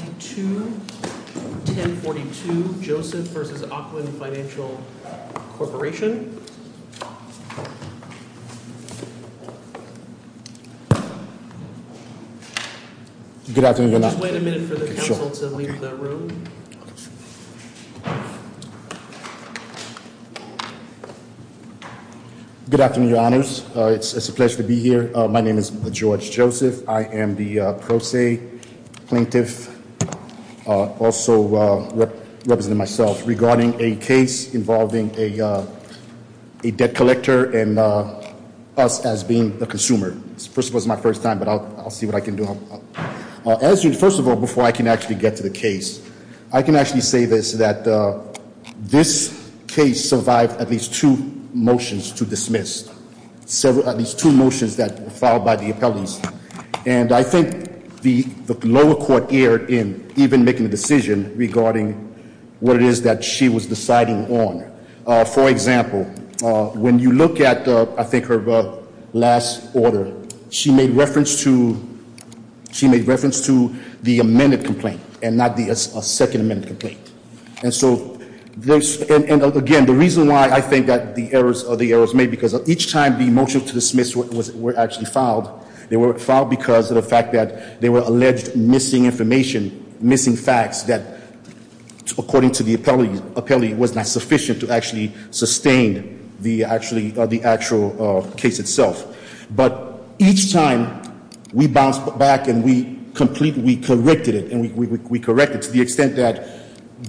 1042 Joseph v. Ocwen Financial Corporation Good afternoon Your Honor. Just wait a minute for the counsel to leave the room. Good afternoon Your Honors. It's a pleasure to be here. My name is George Joseph. I am the Pro Se Plaintiff. Also representing myself regarding a case involving a debt collector and us as being the consumer. First of all, this is my first time but I'll see what I can do. First of all, before I can actually get to the case, I can actually say this, that this case survived at least two motions to dismiss. At least two motions that were filed by the appellees. And I think the lower court erred in even making a decision regarding what it is that she was deciding on. For example, when you look at I think her last order, she made reference to the amended complaint and not the second amended complaint. And so, again, the reason why I think that the errors are the errors made because each time the motions to dismiss were actually filed, they were filed because of the fact that they were alleged missing information, missing facts that according to the appellee, was not sufficient to actually sustain the actual case itself. But each time we bounced back and we completely corrected it and we corrected it to the extent that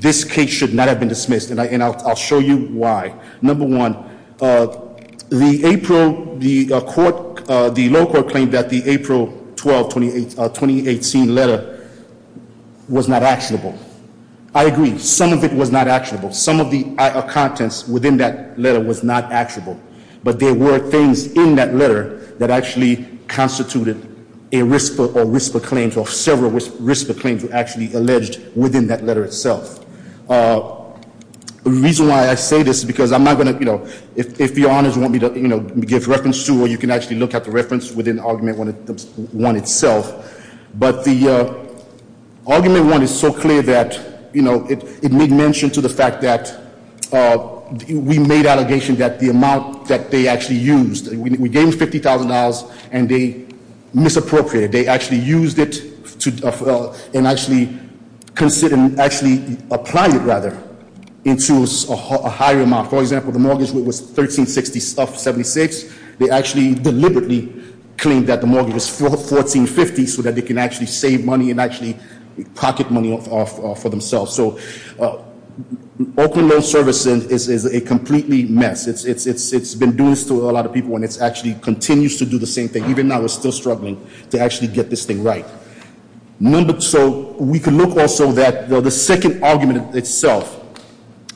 this case should not have been dismissed. And I'll show you why. Number one, the low court claimed that the April 12, 2018 letter was not actionable. I agree, some of it was not actionable. Some of the contents within that letter was not actionable. But there were things in that letter that actually constituted a risk for claims or several risk for claims were actually alleged within that letter itself. The reason why I say this is because I'm not going to, if your honors want me to give reference to or you can actually look at the reference within argument one itself. But the argument one is so clear that it made mention to the fact that we made allegations that the amount that they actually used. We gave them $50,000 and they misappropriated. They actually used it and actually applied it rather into a higher amount. For example, the mortgage rate was 13.76. They actually deliberately claimed that the mortgage was 14.50 so that they can actually save money and actually pocket money for themselves. So open loan servicing is a completely mess. It's been doing this to a lot of people and it actually continues to do the same thing. Even now we're still struggling to actually get this thing right. So we can look also that the second argument itself.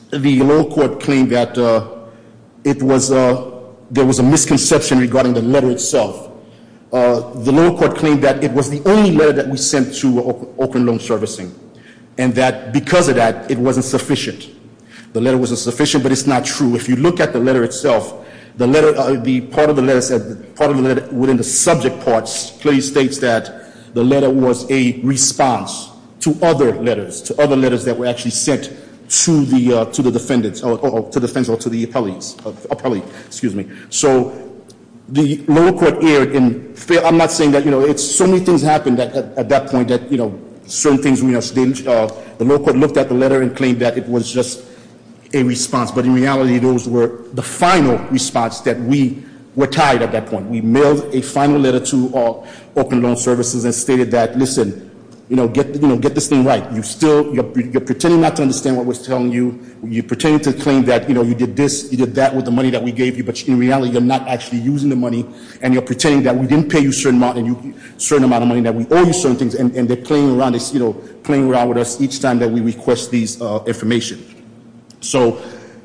The low court claimed that there was a misconception regarding the letter itself. The low court claimed that it was the only letter that we sent to open loan servicing. And that because of that, it wasn't sufficient. The letter wasn't sufficient, but it's not true. If you look at the letter itself, part of the letter within the subject parts clearly states that the letter was a response to other letters. To other letters that were actually sent to the defendant or to the appellate, excuse me. So the lower court erred in, I'm not saying that, it's so many things happened at that point that certain things, the lower court looked at the letter and claimed that it was just a response. But in reality those were the final response that we were tied at that point. We mailed a final letter to open loan services and stated that, listen, get this thing right. You're pretending not to understand what we're telling you. You're pretending to claim that you did this, you did that with the money that we gave you. But in reality, you're not actually using the money. And you're pretending that we didn't pay you a certain amount of money, that we owe you certain things. And they're playing around with us each time that we request these information. So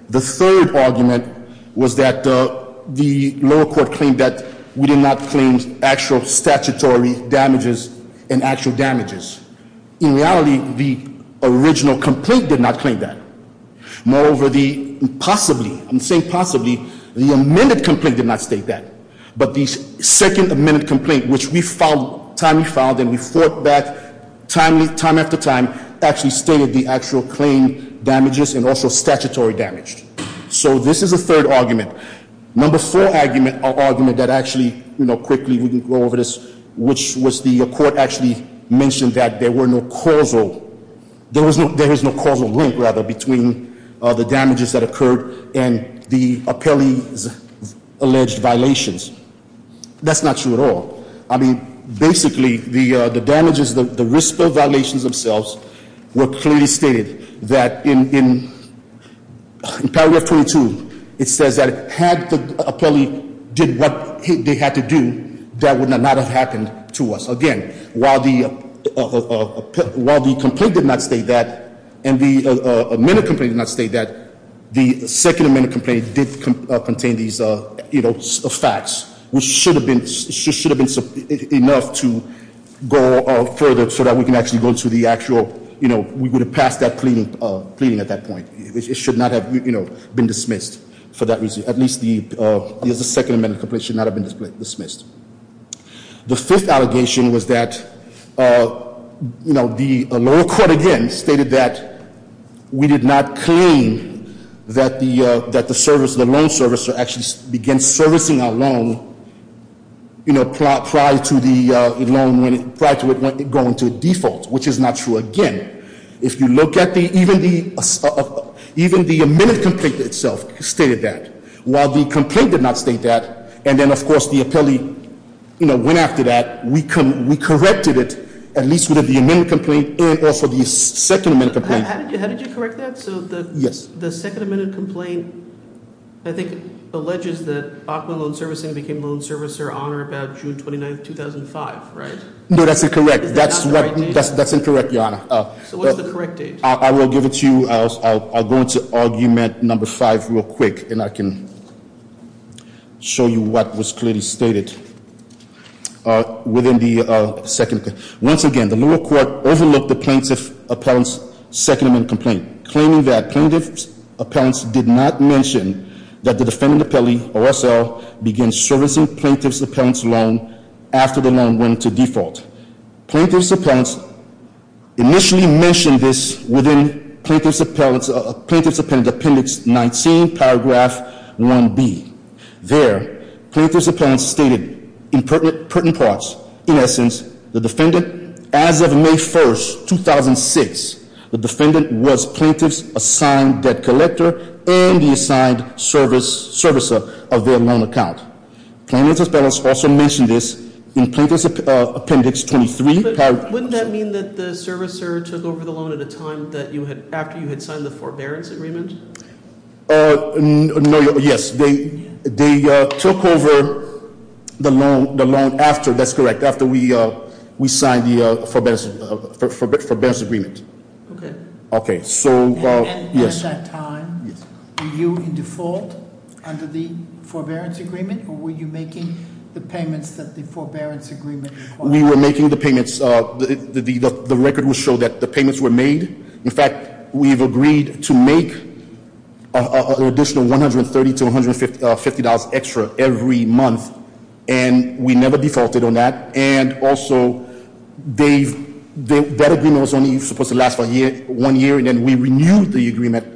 the third argument was that the lower court claimed that we did not claim actual statutory damages and actual damages. In reality, the original complaint did not claim that. Moreover, possibly, I'm saying possibly, the amended complaint did not state that. But the second amended complaint, which we finally filed and we fought back time after time, actually stated the actual claim damages and also statutory damage. So this is a third argument. Number four argument, or argument that actually, quickly we can go over this, which was the court actually mentioned that there were no causal, there is no causal link, rather, between the damages that occurred and the appellee's alleged violations. That's not true at all. I mean, basically, the damages, the risk of violations themselves were clearly stated that in paragraph 22, it says that had the appellee did what they had to do, that would not have happened to us. Again, while the complaint did not state that, and the amended complaint did not state that, the second amended complaint did contain these facts, which should have been enough to go further so that we can actually go to the actual, we would have passed that pleading at that point. It should not have been dismissed for that reason. At least the second amended complaint should not have been dismissed. The fifth allegation was that, you know, the lower court, again, stated that we did not claim that the loan servicer actually began servicing our loan, you know, prior to it going to default, which is not true. Again, if you look at the, even the amended complaint itself stated that. While the complaint did not state that, and then, of course, the appellee, you know, went after that, we corrected it, at least with the amended complaint and also the second amended complaint. How did you correct that? Yes. So the second amended complaint, I think, alleges that Bachman Loan Servicing became loan servicer on or about June 29, 2005, right? No, that's incorrect. That's incorrect, Your Honor. So what's the correct date? I will give it to you. I'll go into argument number five real quick, and I can show you what was clearly stated within the second. Once again, the lower court overlooked the plaintiff's appellant's second amended complaint, claiming that plaintiff's appellants did not mention that the defendant appellee, or SL, began servicing plaintiff's appellant's loan after the loan went to default. Plaintiff's appellants initially mentioned this within Plaintiff's Appendix 19, Paragraph 1B. There, plaintiff's appellants stated in pertinent parts, in essence, the defendant, as of May 1st, 2006, the defendant was plaintiff's assigned debt collector and the assigned servicer of their loan account. Plaintiff's appellants also mentioned this in Plaintiff's Appendix 23, Paragraph- Wouldn't that mean that the servicer took over the loan at a time after you had signed the forbearance agreement? No, yes. They took over the loan after, that's correct, after we signed the forbearance agreement. Okay. Okay, so, yes. At that time, were you in default under the forbearance agreement, or were you making the payments that the forbearance agreement required? We were making the payments. The record will show that the payments were made. In fact, we've agreed to make an additional $130 to $150 extra every month. And we never defaulted on that. And also, that agreement was only supposed to last for one year. And then we renewed the agreement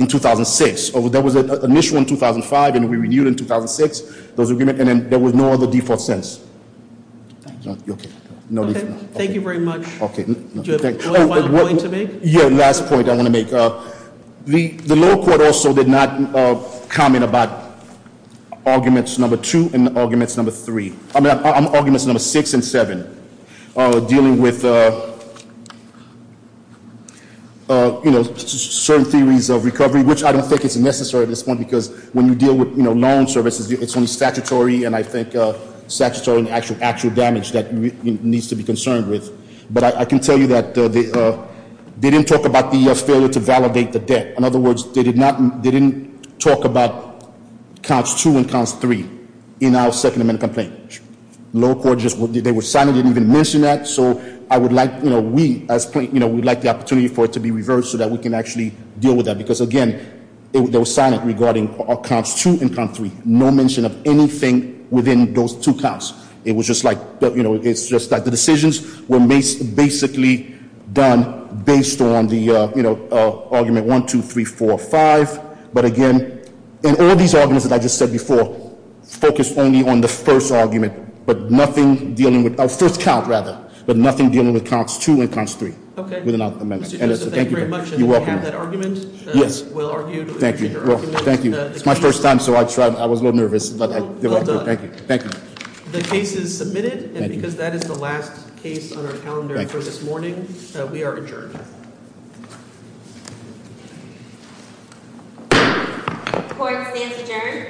in 2006. There was an issue in 2005, and we renewed it in 2006, those agreements, and then there was no other defaults since. Thank you. You're okay. Thank you very much. Do you have one more point to make? Yeah, last point I want to make. The lower court also did not comment about arguments number two and arguments number three. Certain theories of recovery, which I don't think is necessary at this point because when you deal with loan services, it's only statutory and I think statutory and actual damage that needs to be concerned with. But I can tell you that they didn't talk about the failure to validate the debt. In other words, they didn't talk about counts two and counts three in our second amendment complaint. Lower court just, they were silent, didn't even mention that. So I would like, we as plaintiffs, we'd like the opportunity for it to be reversed so that we can actually deal with that. Because again, they were silent regarding counts two and count three. No mention of anything within those two counts. It was just like, it's just that the decisions were basically done based on the argument one, two, three, four, five. But again, in all these arguments that I just said before, focus only on the first argument. But nothing dealing with, first count rather. But nothing dealing with counts two and counts three. Okay. Within our amendment. Mr. Joseph, thank you very much. You're welcome. And we have that argument. Yes. Well argued. Thank you. Thank you. It's my first time so I was a little nervous. Well done. Thank you. Thank you. The case is submitted. Thank you. And because that is the last case on our calendar for this morning, we are adjourned. Court stands adjourned.